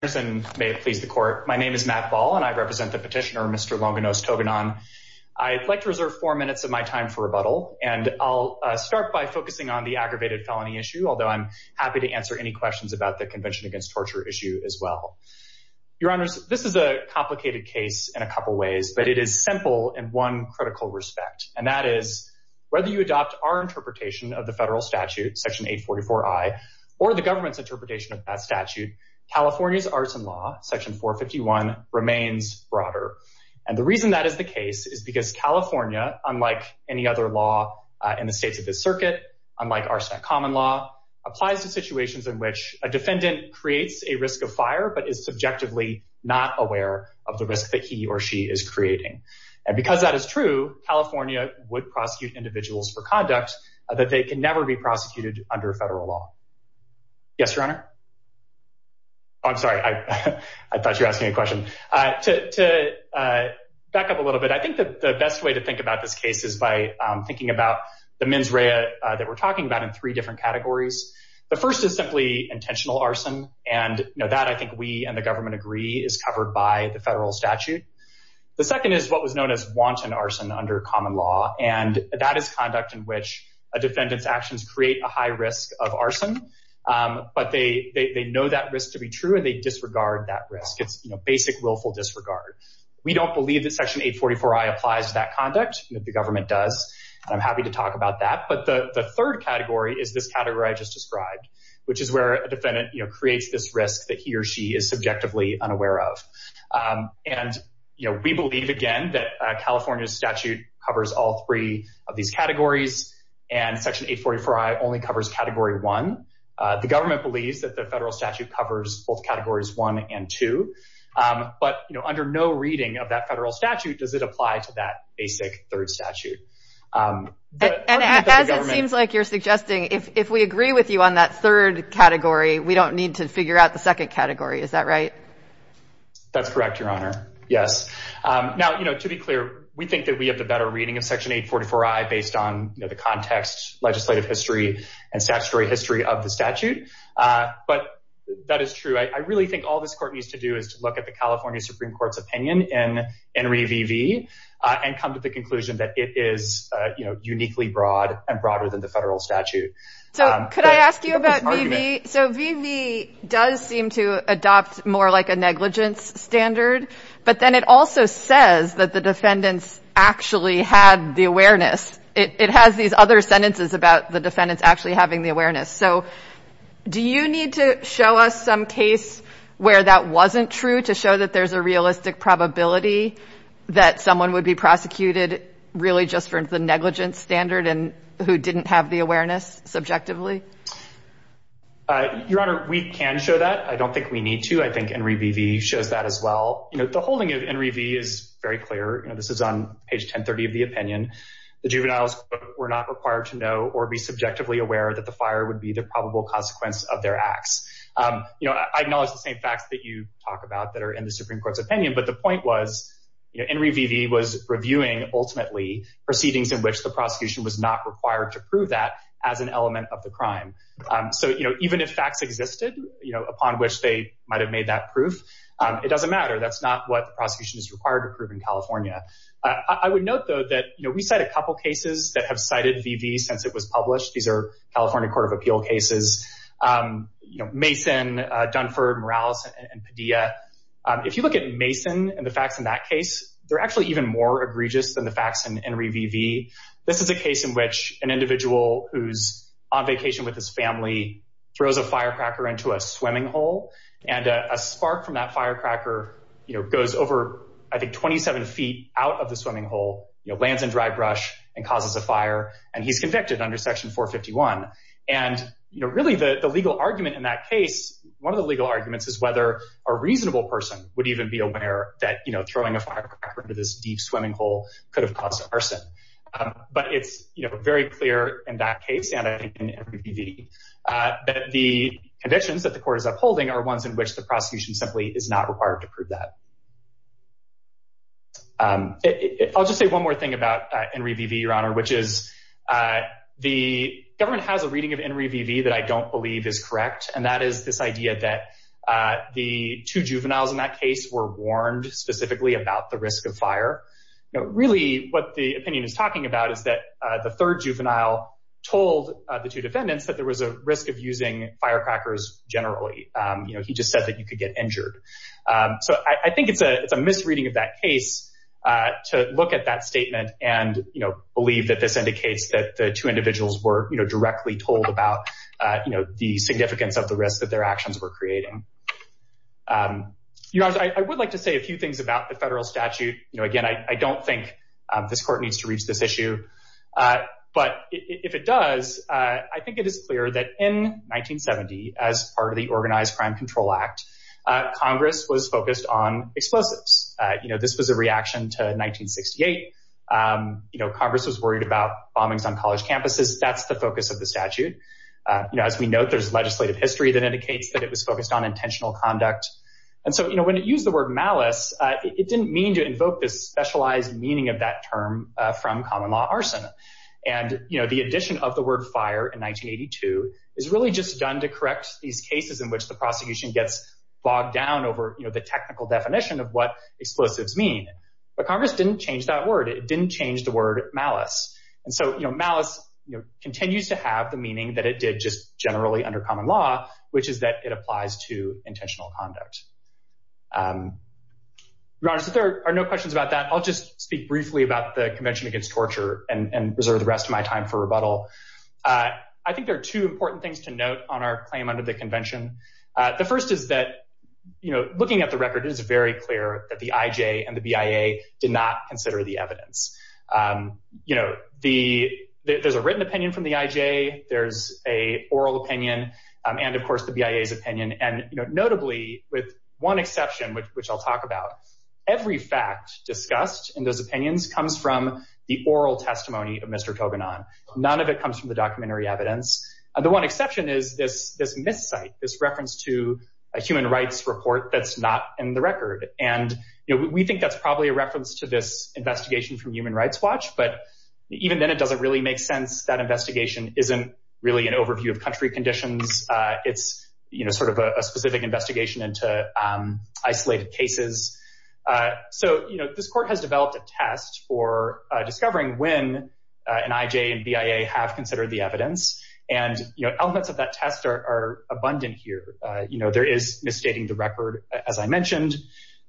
My name is Matt Ball and I represent the petitioner, Mr. Longinos Togonon. I'd like to reserve four minutes of my time for rebuttal, and I'll start by focusing on the aggravated felony issue, although I'm happy to answer any questions about the Convention Against Torture issue as well. Your Honors, this is a complicated case in a couple ways, but it is simple in one critical respect, and that is, whether you adopt our interpretation of the federal statute, Section 844I, or the government's interpretation of that statute, California's Arts and Law, Section 451, remains broader. And the reason that is the case is because California, unlike any other law in the states of this circuit, unlike Arson at Common Law, applies to situations in which a defendant creates a risk of fire, but is subjectively not aware of the risk that he or she is creating. And because that is true, California would prosecute individuals for conduct that they can never be prosecuted under federal law. Yes, Your Honor? Oh, I'm sorry. I thought you were asking a question. To back up a little bit, I think the best way to think about this case is by thinking about the mens rea that we're talking about in three different categories. The first is simply intentional arson, and that I think we and the government agree is covered by the federal statute. The second is what was known as wanton arson under Common Law, and that is conduct in which a defendant's actions create a high risk of arson, but they know that risk to be true, and they disregard that risk. It's basic willful disregard. We don't believe that Section 844I applies to that conduct. The government does, and I'm happy to talk about that. But the third category is this category I just described, which is where a defendant creates this risk that he or she is subjectively unaware of. And we believe, again, that California's statute covers all three of these categories, and Section 844I only covers Category 1. The government believes that the federal statute covers both Categories 1 and 2, but under no reading of that federal statute does it apply to that basic third statute. And as it seems like you're suggesting, if we agree with you on that third category, we don't need to figure out the second category. Is that right? That's correct, Your Honor. Yes. Now, you know, to be clear, we think that we have the better reading of Section 844I based on the context, legislative history, and statutory history of the statute. But that is true. I really think all this court needs to do is to look at the California Supreme Court's opinion in ENRI V.V. and come to the conclusion that it is uniquely broad and broader than the federal statute. So could I ask you about V.V.? So V.V. does seem to adopt more like a negligence standard, but then it also says that the defendants actually had the awareness. It has these other sentences about the defendants actually having the awareness. So do you need to show us some case where that wasn't true to show that there's a realistic probability that someone would be prosecuted really just for the negligence standard and who didn't have the awareness subjectively? Your Honor, we can show that. I don't think we need to. I think ENRI V.V. shows that as well. You know, the holding of ENRI V.V. is very clear. You know, this is on page 1030 of the opinion. The juveniles were not required to know or be subjectively aware that the fire would be the probable consequence of their acts. But the point was ENRI V.V. was reviewing, ultimately, proceedings in which the prosecution was not required to prove that as an element of the crime. So even if facts existed upon which they might have made that proof, it doesn't matter. That's not what the prosecution is required to prove in California. I would note, though, that we cite a couple cases that have cited V.V. since it was published. These are California Court of Appeal cases, Mason, Dunford, Morales, and Padilla. If you look at Mason and the facts in that case, they're actually even more egregious than the facts in ENRI V.V. This is a case in which an individual who's on vacation with his family throws a firecracker into a swimming hole, and a spark from that firecracker goes over, I think, 27 feet out of the swimming hole, lands in dry brush, and causes a fire, and he's convicted under Section 451. Really, the legal argument in that case, one of the legal arguments is whether a reasonable person would even be aware that throwing a firecracker into this deep swimming hole could have caused arson. But it's very clear in that case, and I think in ENRI V.V., that the conditions that the court is upholding are ones in which the prosecution simply is not required to prove that. I'll just say one more thing about ENRI V.V., Your Honor, which is the government has a reading of ENRI V.V. that I don't believe is correct, and that is this idea that the two juveniles in that case were warned specifically about the risk of fire. Really, what the opinion is talking about is that the third juvenile told the two defendants that there was a risk of using firecrackers generally. He just said that you could get injured. I think it's a misreading of that case to look at that statement and believe that this indicates that the two individuals were directly told about the significance of the risk that their actions were creating. Your Honor, I would like to say a few things about the federal statute. Again, I don't think this court needs to reach this issue, but if it does, I think it is clear that in 1970, as part of the Organized Crime Control Act, Congress was focused on explosives. This was a reaction to 1968. Congress was worried about bombings on college campuses. That's the focus of the statute. As we note, there's legislative history that indicates that it was focused on intentional conduct. When it used the word malice, it didn't mean to invoke this specialized meaning of that term from common law arson. The addition of the word fire in 1982 is really just done to correct these cases in which the prosecution gets bogged down over the technical definition of what explosives mean. But Congress didn't change that word. It didn't change the word malice. Malice continues to have the meaning that it did just generally under common law, which is that it applies to intentional conduct. Your Honor, since there are no questions about that, I'll just speak briefly about the Convention Against Torture and reserve the rest of my time for rebuttal. I think there are two important things to note on our claim under the convention. The first is that looking at the record, it is very clear that the IJ and the BIA did not consider the evidence. There's a written opinion from the IJ. There's an oral opinion and, of course, the BIA's opinion. Notably, with one exception, which I'll talk about, every fact discussed in those opinions comes from the oral testimony of Mr. Toganon. None of it comes from the documentary evidence. The one exception is this miscite, this reference to a human rights report that's not in the record. We think that's probably a reference to this investigation from Human Rights Watch, but even then it doesn't really make sense. That investigation isn't really an overview of country conditions. It's sort of a specific investigation into isolated cases. This court has developed a test for discovering when an IJ and BIA have considered the evidence, and elements of that test are abundant here. There is misstating the record, as I mentioned.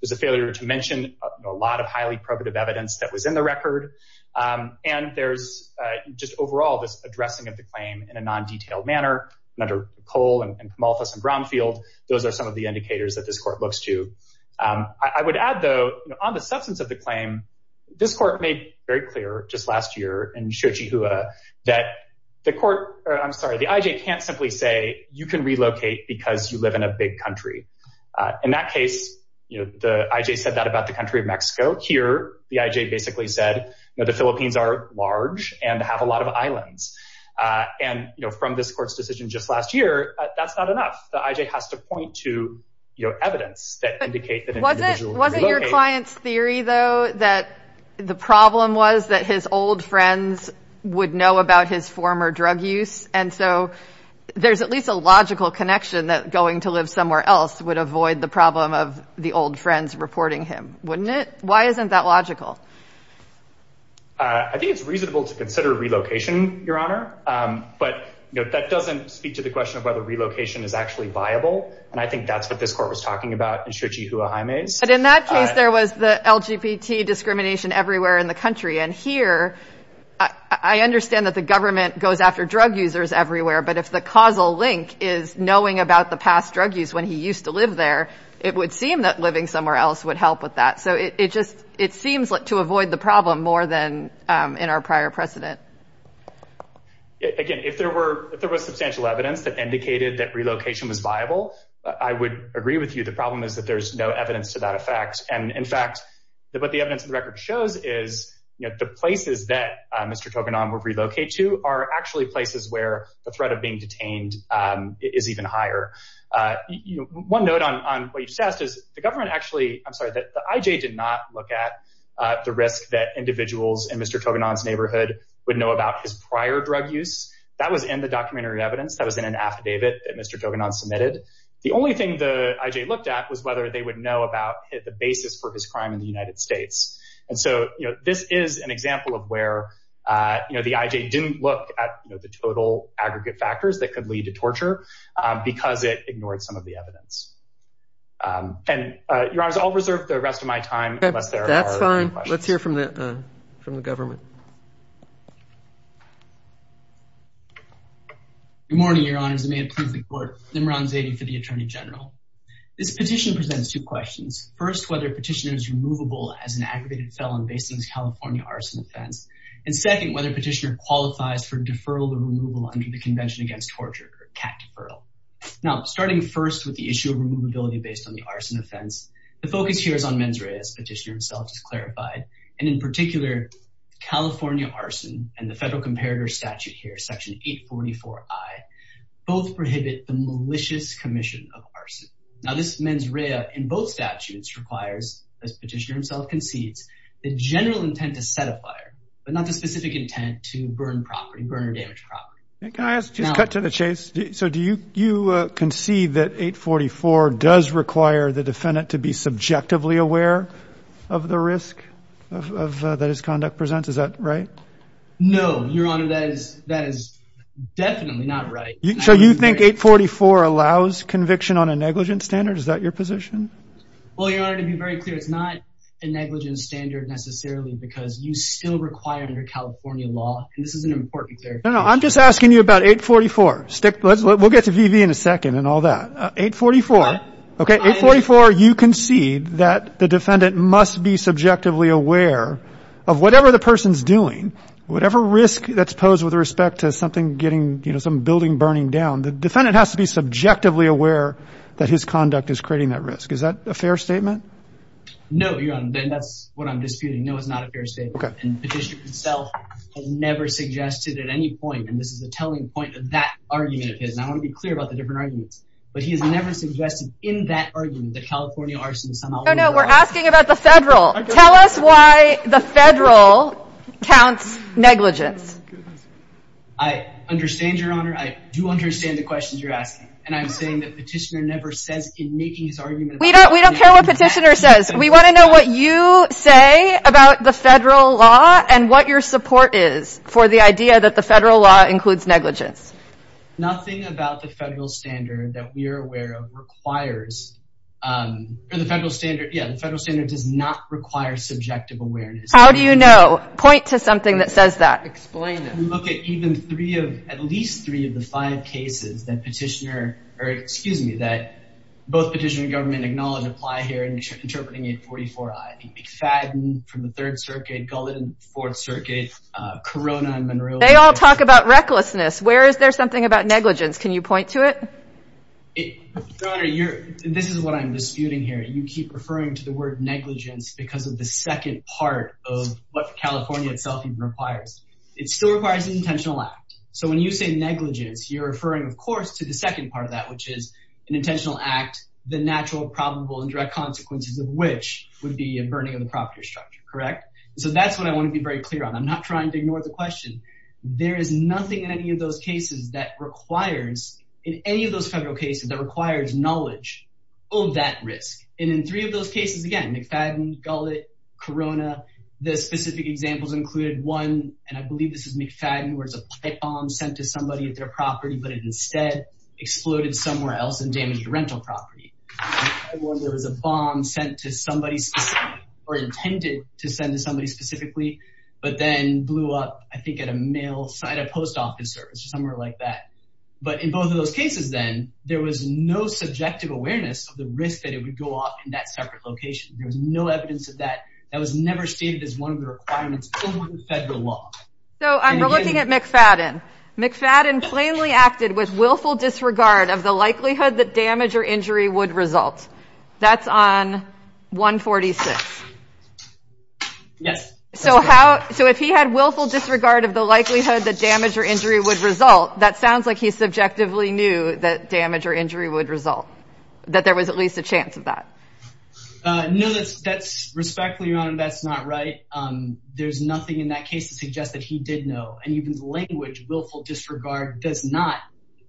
There's a failure to mention a lot of highly probative evidence that was in the record, and there's just overall this addressing of the claim in a non-detailed manner. Under Cole and Kamalfas and Brownfield, those are some of the indicators that this court looks to. I would add, though, on the substance of the claim, this court made very clear just last year in Xochihuahua that the IJ can't simply say you can relocate because you live in a big country. In that case, the IJ said that about the country of Mexico. Here, the IJ basically said the Philippines are large and have a lot of islands. From this court's decision just last year, that's not enough. The IJ has to point to evidence that indicate that an individual can relocate. Wasn't your client's theory, though, that the problem was that his old friends would know about his former drug use? And so there's at least a logical connection that going to live somewhere else would avoid the problem of the old friends reporting him, wouldn't it? Why isn't that logical? I think it's reasonable to consider relocation, Your Honor. But that doesn't speak to the question of whether relocation is actually viable. And I think that's what this court was talking about in Xochihuahua. But in that case, there was the LGBT discrimination everywhere in the country. And here, I understand that the government goes after drug users everywhere. But if the causal link is knowing about the past drug use when he used to live there, it would seem that living somewhere else would help with that. So it seems to avoid the problem more than in our prior precedent. Again, if there was substantial evidence that indicated that relocation was viable, I would agree with you. The problem is that there's no evidence to that effect. And, in fact, what the evidence of the record shows is the places that Mr. Toganon would relocate to are actually places where the threat of being detained is even higher. One note on what you just asked is the government actually—I'm sorry, the IJ did not look at the risk that individuals in Mr. Toganon's neighborhood would know about his prior drug use. That was in the documentary evidence. That was in an affidavit that Mr. Toganon submitted. The only thing the IJ looked at was whether they would know about the basis for his crime in the United States. And so this is an example of where the IJ didn't look at the total aggregate factors that could lead to torture because it ignored some of the evidence. And, Your Honors, I'll reserve the rest of my time unless there are any questions. That's fine. Let's hear from the government. Good morning, Your Honors, and may it please the Court. Nimran Zaidi for the Attorney General. This petition presents two questions. First, whether a petitioner is removable as an aggravated felon based on this California arson offense. And second, whether a petitioner qualifies for deferral or removal under the Convention Against Torture or CAT deferral. Now, starting first with the issue of removability based on the arson offense, the focus here is on mens rea, as the petitioner himself has clarified. And in particular, California arson and the Federal Comparator Statute here, Section 844I, both prohibit the malicious commission of arson. Now, this mens rea in both statutes requires, as the petitioner himself concedes, the general intent to set a fire, but not the specific intent to burn property, burn or damage property. Can I just cut to the chase? So do you concede that 844 does require the defendant to be subjectively aware of the risk that his conduct presents? Is that right? No, Your Honor, that is definitely not right. So you think 844 allows conviction on a negligent standard? Is that your position? Well, Your Honor, to be very clear, it's not a negligent standard necessarily because you still require under California law. And this is an important clarification. No, no, I'm just asking you about 844. We'll get to V.V. in a second and all that. 844, okay, 844, you concede that the defendant must be subjectively aware of whatever the person's doing, whatever risk that's posed with respect to something getting, you know, some building burning down. The defendant has to be subjectively aware that his conduct is creating that risk. Is that a fair statement? No, Your Honor, and that's what I'm disputing. No, it's not a fair statement. Okay. And the petitioner himself has never suggested at any point, and this is a telling point of that argument of his, and I want to be clear about the different arguments, but he has never suggested in that argument that California arson is somehow— No, no, we're asking about the federal. Tell us why the federal counts negligence. I understand, Your Honor. I do understand the questions you're asking, and I'm saying that petitioner never says in making his argument— We don't care what petitioner says. We want to know what you say about the federal law and what your support is for the idea that the federal law includes negligence. Nothing about the federal standard that we are aware of requires, or the federal standard, yeah, the federal standard does not require subjective awareness. How do you know? Point to something that says that. Explain it. We look at even three of, at least three of the five cases that petitioner, or excuse me, that both petitioner and government acknowledge apply here in interpreting 844-I. McFadden from the Third Circuit, Gullitt in the Fourth Circuit, Corona in Monrovia— They all talk about recklessness. Where is there something about negligence? Can you point to it? Your Honor, this is what I'm disputing here. You keep referring to the word negligence because of the second part of what California itself even requires. It still requires an intentional act. So when you say negligence, you're referring, of course, to the second part of that, which is an intentional act, the natural, probable, and direct consequences of which would be a burning of the property or structure. Correct? So that's what I want to be very clear on. I'm not trying to ignore the question. There is nothing in any of those cases that requires, in any of those federal cases, that requires knowledge of that risk. And in three of those cases, again, McFadden, Gullitt, Corona, the specific examples included one, and I believe this is McFadden, where it's a pipe bomb sent to somebody at their property, but it instead exploded somewhere else and damaged the rental property. There was a bomb sent to somebody specifically, or intended to send to somebody specifically, but then blew up, I think, at a mail, at a post office service, somewhere like that. But in both of those cases, then, there was no subjective awareness of the risk that it would go off in that separate location. There was no evidence of that. That was never stated as one of the requirements in the federal law. So I'm looking at McFadden. McFadden plainly acted with willful disregard of the likelihood that damage or injury would result. That's on 146. Yes. So if he had willful disregard of the likelihood that damage or injury would result, that sounds like he subjectively knew that damage or injury would result, that there was at least a chance of that. No, respectfully, Your Honor, that's not right. There's nothing in that case to suggest that he did know. And even language, willful disregard, does not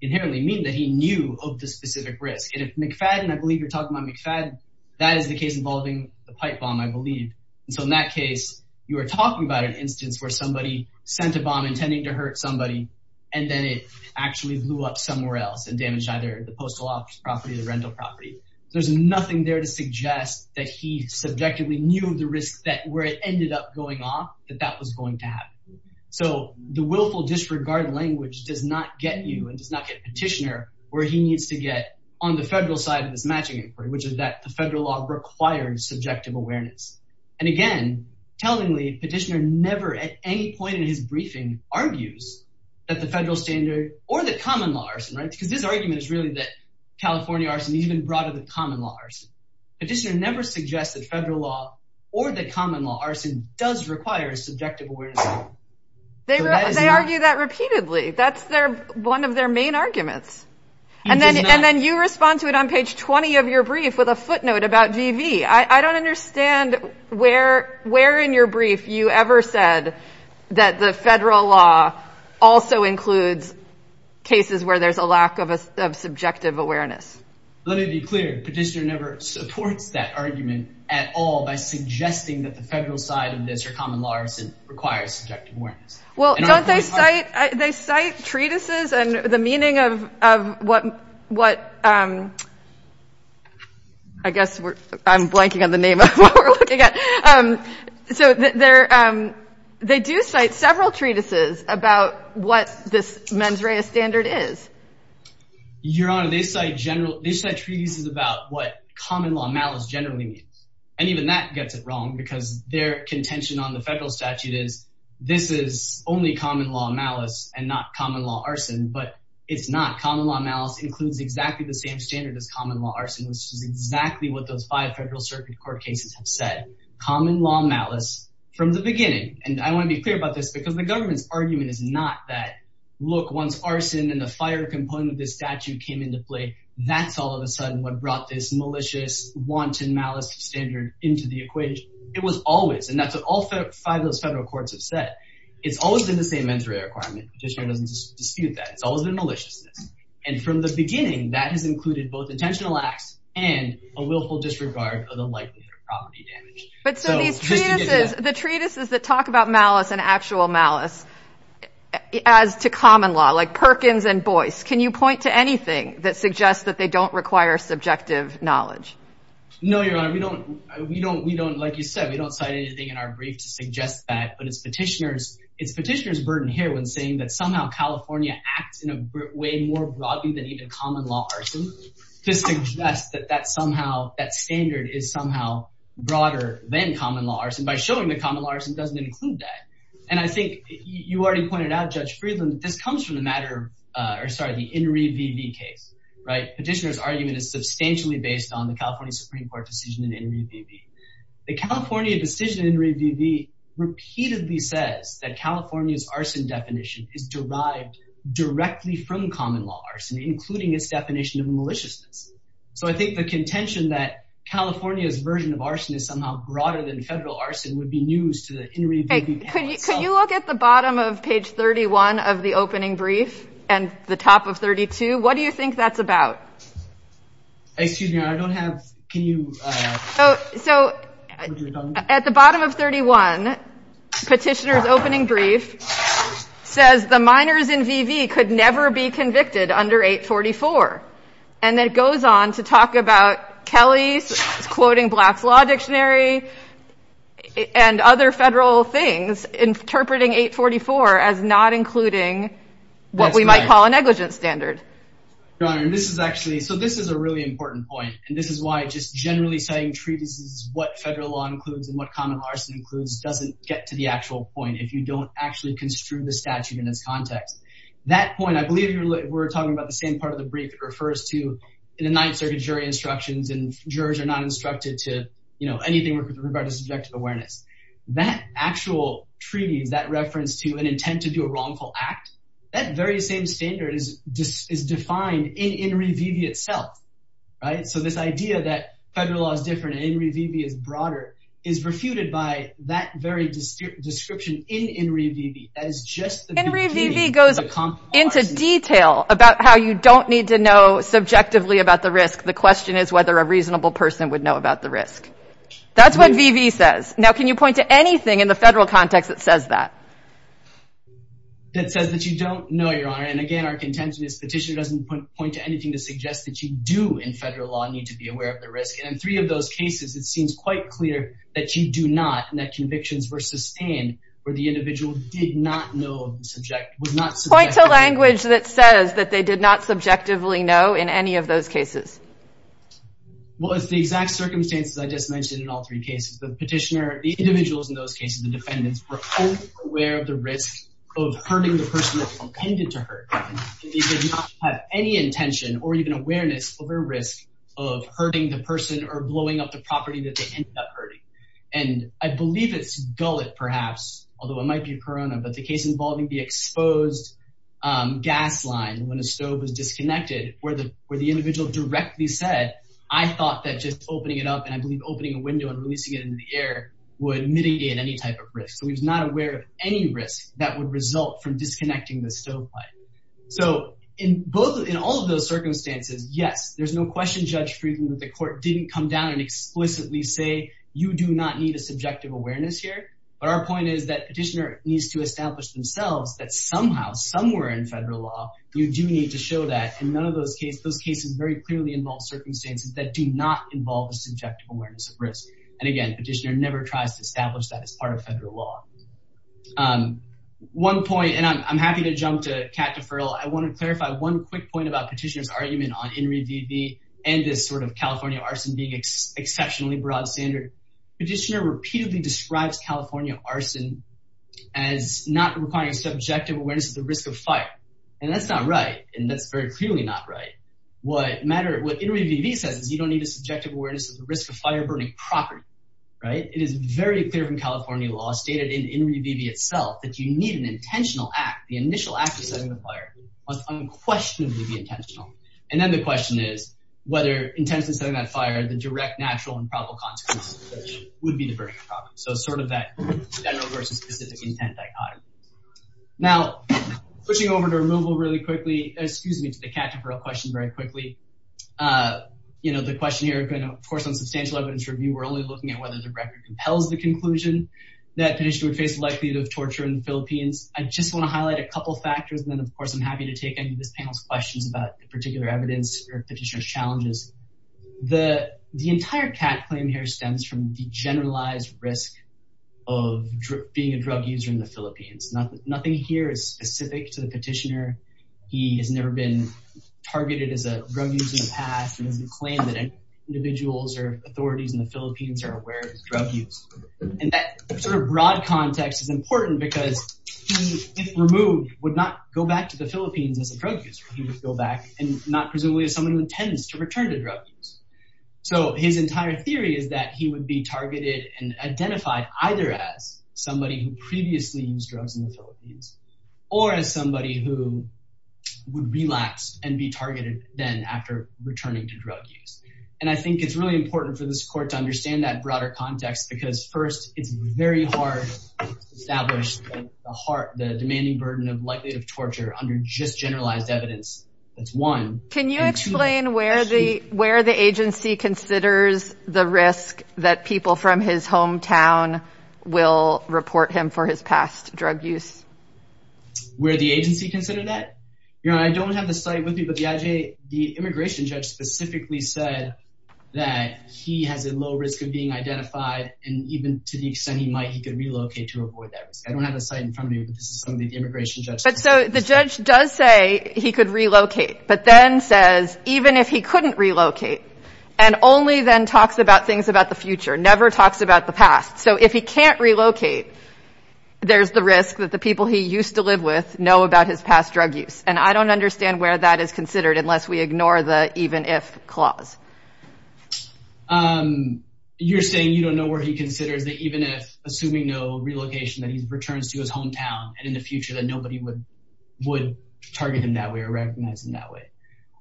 inherently mean that he knew of the specific risk. And if McFadden, I believe you're talking about McFadden, that is the case involving the pipe bomb, I believe. And so in that case, you are talking about an instance where somebody sent a bomb intending to hurt somebody, and then it actually blew up somewhere else and damaged either the postal office property or the rental property. There's nothing there to suggest that he subjectively knew of the risk that where it ended up going off, that that was going to happen. So the willful disregard language does not get you and does not get Petitioner where he needs to get on the federal side of this matching inquiry, which is that the federal law required subjective awareness. And again, tellingly, Petitioner never at any point in his briefing argues that the federal standard or the common law arson, right? Because his argument is really that California arson is even broader than common law arson. Petitioner never suggested federal law or the common law arson does require a subjective awareness. They argue that repeatedly. That's one of their main arguments. And then you respond to it on page 20 of your brief with a footnote about GV. I don't understand where in your brief you ever said that the federal law also includes cases where there's a lack of subjective awareness. Let me be clear. Petitioner never supports that argument at all by suggesting that the federal side of this or common law arson requires subjective awareness. Well, don't they cite they cite treatises and the meaning of what what? I guess I'm blanking on the name of what we're looking at. So there they do cite several treatises about what this mens rea standard is. Your Honor, they cite general treatises about what common law malice generally means. And even that gets it wrong because their contention on the federal statute is this is only common law malice and not common law arson. But it's not. Common law malice includes exactly the same standard as common law arson, which is exactly what those five federal circuit court cases have said. Common law malice from the beginning. And I want to be clear about this because the government's argument is not that. Look, once arson and the fire component of this statute came into play, that's all of a sudden what brought this malicious, wanton malice standard into the equation. It was always and that's what all five of those federal courts have said. It's always been the same mens rea requirement. Petitioner doesn't dispute that. It's always been maliciousness. And from the beginning, that has included both intentional acts and a willful disregard of the likelihood of property damage. But so these treatises, the treatises that talk about malice and actual malice as to common law like Perkins and Boyce. Can you point to anything that suggests that they don't require subjective knowledge? No, Your Honor. We don't. We don't. We don't. Like you said, we don't cite anything in our brief to suggest that. But it's petitioners. It's petitioners burden here when saying that somehow California acts in a way more broadly than even common law. This suggests that that's somehow that standard is somehow broader than common laws. And by showing the common laws, it doesn't include that. And I think you already pointed out, Judge Friedland. This comes from the matter or sorry, the injury case. Right. Petitioner's argument is substantially based on the California Supreme Court decision. The California decision repeatedly says that California's arson definition is derived directly from common law, including its definition of maliciousness. So I think the contention that California's version of arson is somehow broader than federal arson would be news to the. Could you look at the bottom of page 31 of the opening brief and the top of 32? What do you think that's about? Excuse me, I don't have. Can you. So at the bottom of 31 petitioners opening brief says the minors in V.V. could never be convicted under 844. And that goes on to talk about Kelly's quoting Black's Law Dictionary and other federal things, interpreting 844 as not including what we might call a negligent standard. And this is actually so this is a really important point. And this is why just generally saying treatises, what federal law includes and what common arson includes doesn't get to the actual point. If you don't actually construe the statute in its context, that point, I believe we're talking about the same part of the brief refers to the Ninth Circuit jury instructions. And jurors are not instructed to, you know, anything with regard to subjective awareness. That actual treaty is that reference to an intent to do a wrongful act. That very same standard is just is defined in V.V. itself. Right. So this idea that federal law is different and V.V. is broader is refuted by that very description in V.V. That is just the V.V. goes into detail about how you don't need to know subjectively about the risk. The question is whether a reasonable person would know about the risk. That's what V.V. says. Now, can you point to anything in the federal context that says that? That says that you don't know your honor. And again, our contention is petitioner doesn't point to anything to suggest that you do in federal law need to be aware of the risk. And in three of those cases, it seems quite clear that you do not. And that convictions were sustained where the individual did not know the subject. Point to language that says that they did not subjectively know in any of those cases. Well, it's the exact circumstances I just mentioned in all three cases. The petitioner, the individuals in those cases, the defendants were aware of the risk of hurting the person that they intended to hurt. They did not have any intention or even awareness of a risk of hurting the person or blowing up the property that they ended up hurting. And I believe it's gullet, perhaps, although it might be Corona. But the case involving the exposed gas line when a stove is disconnected where the where the individual directly said, I thought that just opening it up and I believe opening a window and releasing it in the air would mitigate any type of risk. So he's not aware of any risk that would result from disconnecting the stove. So in both in all of those circumstances, yes, there's no question. Judge Friedland, the court didn't come down and explicitly say you do not need a subjective awareness here. But our point is that petitioner needs to establish themselves that somehow somewhere in federal law. You do need to show that in none of those cases, those cases very clearly involve circumstances that do not involve a subjective awareness of risk. And again, petitioner never tries to establish that as part of federal law. One point, and I'm happy to jump to cat deferral. I want to clarify one quick point about petitioner's argument on in review and this sort of California arson being exceptionally broad standard. Petitioner repeatedly describes California arson as not requiring subjective awareness of the risk of fire. And that's not right. And that's very clearly not right. What matter what interview says is you don't need a subjective awareness of the risk of fire burning property. Right. It is very clear from California law stated in review itself that you need an intentional act. The initial act of setting the fire was unquestionably intentional. And then the question is whether intensive setting that fire, the direct natural and probable consequences would be the burning property. So sort of that general versus specific intent dichotomy. Now, pushing over to removal really quickly, excuse me, to the cat deferral question very quickly. You know, the question here, of course, on substantial evidence review, we're only looking at whether the record compels the conclusion that petitioner would face the likelihood of torture in the Philippines. I just want to highlight a couple of factors. And then, of course, I'm happy to take any of this panel's questions about particular evidence or petitioner's challenges. The the entire cat claim here stems from the generalized risk of being a drug user in the Philippines. Nothing here is specific to the petitioner. He has never been targeted as a drug user in the past. The claim that individuals or authorities in the Philippines are aware of drug use. And that sort of broad context is important because he, if removed, would not go back to the Philippines as a drug user. He would go back and not presumably as someone who intends to return to drugs. So his entire theory is that he would be targeted and identified either as somebody who previously used drugs in the Philippines or as somebody who would relapse and be targeted then after returning to drug use. And I think it's really important for this court to understand that broader context, because, first, it's very hard to establish the heart, the demanding burden of likely of torture under just generalized evidence. That's one. Can you explain where the where the agency considers the risk that people from his hometown will report him for his past drug use? Where the agency considered that I don't have the site with me, but the immigration judge specifically said that he has a low risk of being identified. And even to the extent he might, he could relocate to avoid that. I don't have a site in front of me. But so the judge does say he could relocate, but then says even if he couldn't relocate and only then talks about things about the future, never talks about the past. So if he can't relocate, there's the risk that the people he used to live with know about his past drug use. And I don't understand where that is considered unless we ignore the even if clause. You're saying you don't know where he considers that even if, assuming no relocation, that he returns to his hometown and in the future that nobody would would target him that way or recognize him that way.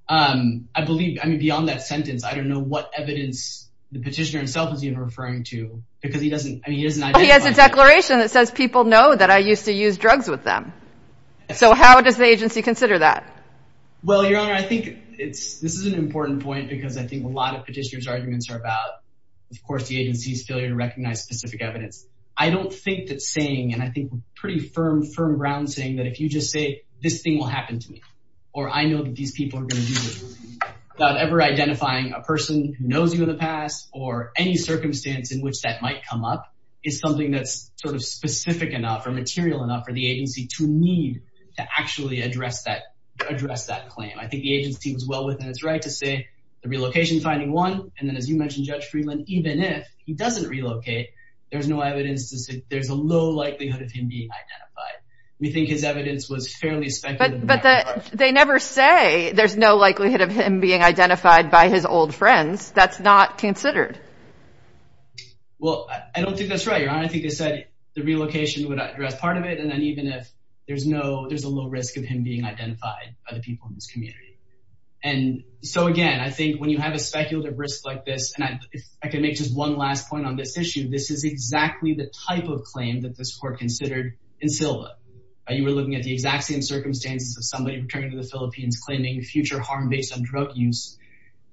I believe I mean, beyond that sentence, I don't know what evidence the petitioner himself is even referring to because he doesn't. He has a declaration that says people know that I used to use drugs with them. So how does the agency consider that? Well, your honor, I think it's this is an important point because I think a lot of petitioners arguments are about, of course, the agency's failure to recognize specific evidence. I don't think that saying and I think pretty firm, firm ground saying that if you just say this thing will happen to me or I know that these people are going to do this without ever identifying a person who knows you in the past or any circumstance in which that might come up is something that's sort of specific enough or material enough for the agency to need to actually address that. Address that claim. I think the agency was well within its right to say the relocation finding one. And then, as you mentioned, Judge Friedland, even if he doesn't relocate, there's no evidence to say there's a low likelihood of him being identified. We think his evidence was fairly speculative. But they never say there's no likelihood of him being identified by his old friends. That's not considered. Well, I don't think that's right. I think I said the relocation would address part of it. And then even if there's no there's a low risk of him being identified by the people in this community. And so, again, I think when you have a speculative risk like this, and I can make just one last point on this issue, this is exactly the type of claim that this court considered in Silva. You were looking at the exact same circumstances of somebody returning to the Philippines claiming future harm based on drug use.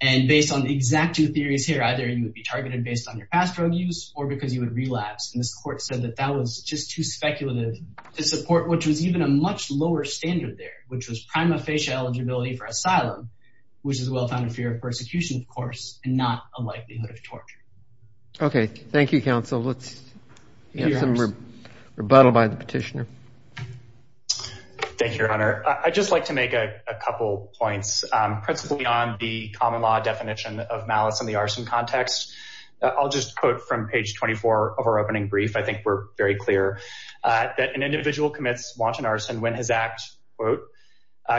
And based on the exact two theories here, either you would be targeted based on your past drug use or because you would relapse. And this court said that that was just too speculative to support, which was even a much lower standard there, which was prima facie eligibility for asylum, which is well found in fear of persecution, of course, and not a likelihood of torture. OK, thank you, counsel. Let's hear some rebuttal by the petitioner. Thank you, Your Honor. I'd just like to make a couple points, principally on the common law definition of malice and the arson context. I'll just quote from page 24 of our opening brief. I think we're very clear that an individual commits wanton arson when his act, quote,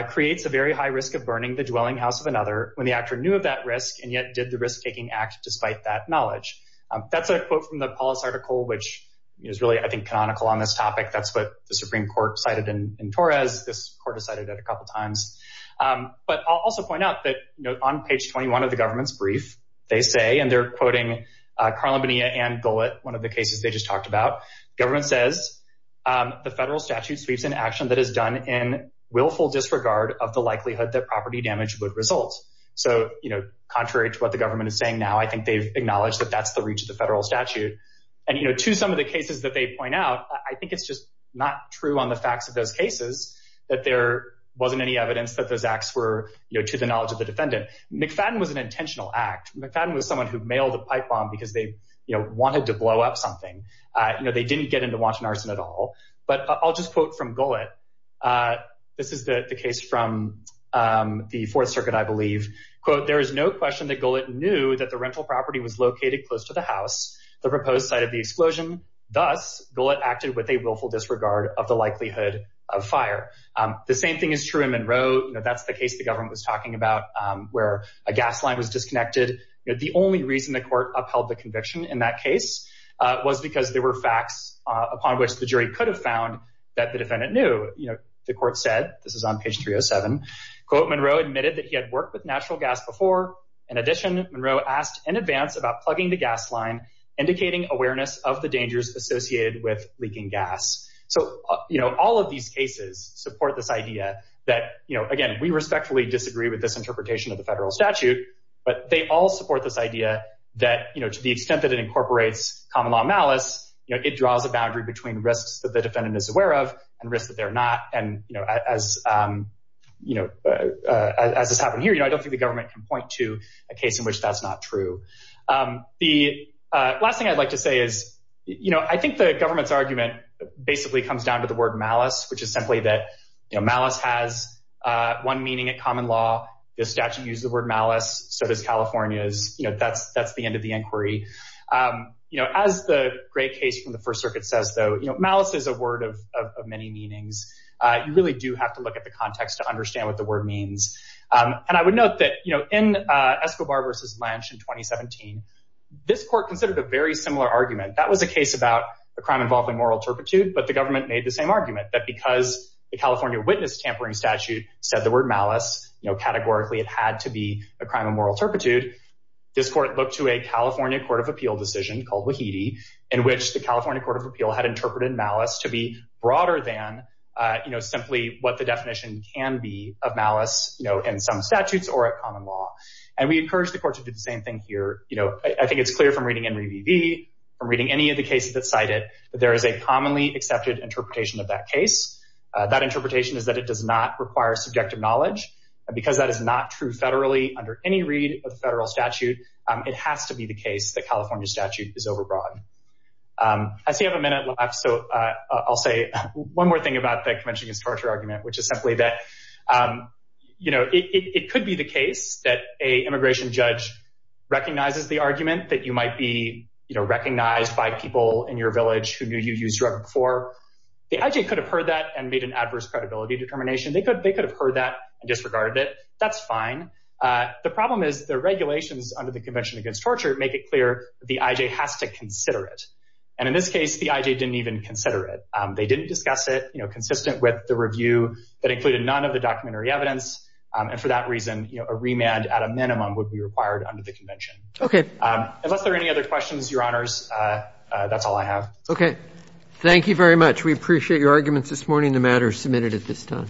creates a very high risk of burning the dwelling house of another when the actor knew of that risk and yet did the risk taking act despite that knowledge. That's a quote from the polis article, which is really, I think, canonical on this topic. That's what the Supreme Court cited in Torres. This court decided that a couple of times. But I'll also point out that, you know, on page 21 of the government's brief, they say, and they're quoting Carla Bonilla and go at one of the cases they just talked about. Government says the federal statute sweeps in action that is done in willful disregard of the likelihood that property damage would result. So, you know, contrary to what the government is saying now, I think they've acknowledged that that's the reach of the federal statute. And, you know, to some of the cases that they point out, I think it's just not true on the facts of those cases that there wasn't any evidence that those acts were to the knowledge of the defendant. McFadden was an intentional act. McFadden was someone who mailed a pipe bomb because they wanted to blow up something. You know, they didn't get into wanton arson at all. But I'll just quote from Gullitt. This is the case from the Fourth Circuit, I believe. Quote, there is no question that Gullitt knew that the rental property was located close to the house, the proposed site of the explosion. Thus, Gullitt acted with a willful disregard of the likelihood of fire. The same thing is true in Monroe. That's the case the government was talking about where a gas line was disconnected. The only reason the court upheld the conviction in that case was because there were facts upon which the jury could have found that the defendant knew. You know, the court said this is on page 307. Quote, Monroe admitted that he had worked with natural gas before. In addition, Monroe asked in advance about plugging the gas line, indicating awareness of the dangers associated with leaking gas. So, you know, all of these cases support this idea that, you know, again, we respectfully disagree with this interpretation of the federal statute. But they all support this idea that, you know, to the extent that it incorporates common law malice, you know, it draws a boundary between risks that the defendant is aware of and risks that they're not. And, you know, as you know, as this happened here, you know, I don't think the government can point to a case in which that's not true. The last thing I'd like to say is, you know, I think the government's argument basically comes down to the word malice, which is simply that malice has one meaning at common law. The statute used the word malice. So does California's. You know, that's that's the end of the inquiry. You know, as the great case from the First Circuit says, though, you know, malice is a word of many meanings. You really do have to look at the context to understand what the word means. And I would note that, you know, in Escobar versus Lynch in 2017, this court considered a very similar argument. That was a case about a crime involving moral turpitude. But the government made the same argument that because the California witness tampering statute said the word malice, you know, categorically, it had to be a crime of moral turpitude. This court looked to a California court of appeal decision called Wahidi, in which the California Court of Appeal had interpreted malice to be broader than, you know, simply what the definition can be of malice in some statutes or a common law. And we encourage the court to do the same thing here. You know, I think it's clear from reading and reading any of the cases that cited that there is a commonly accepted interpretation of that case. That interpretation is that it does not require subjective knowledge. And because that is not true federally under any read of federal statute, it has to be the case that California statute is overbroad. I see I have a minute left, so I'll say one more thing about the Convention Against Torture argument, which is simply that, you know, it could be the case that a immigration judge recognizes the argument that you might be, you know, recognized by people in your village who knew you used drug before. The IJ could have heard that and made an adverse credibility determination. They could have heard that and disregarded it. That's fine. The problem is the regulations under the Convention Against Torture make it clear the IJ has to consider it. And in this case, the IJ didn't even consider it. They didn't discuss it, you know, consistent with the review that included none of the documentary evidence. And for that reason, you know, a remand at a minimum would be required under the convention. Okay. Unless there are any other questions, Your Honors, that's all I have. Okay. Thank you very much. We appreciate your arguments this morning. The matter is submitted at this time.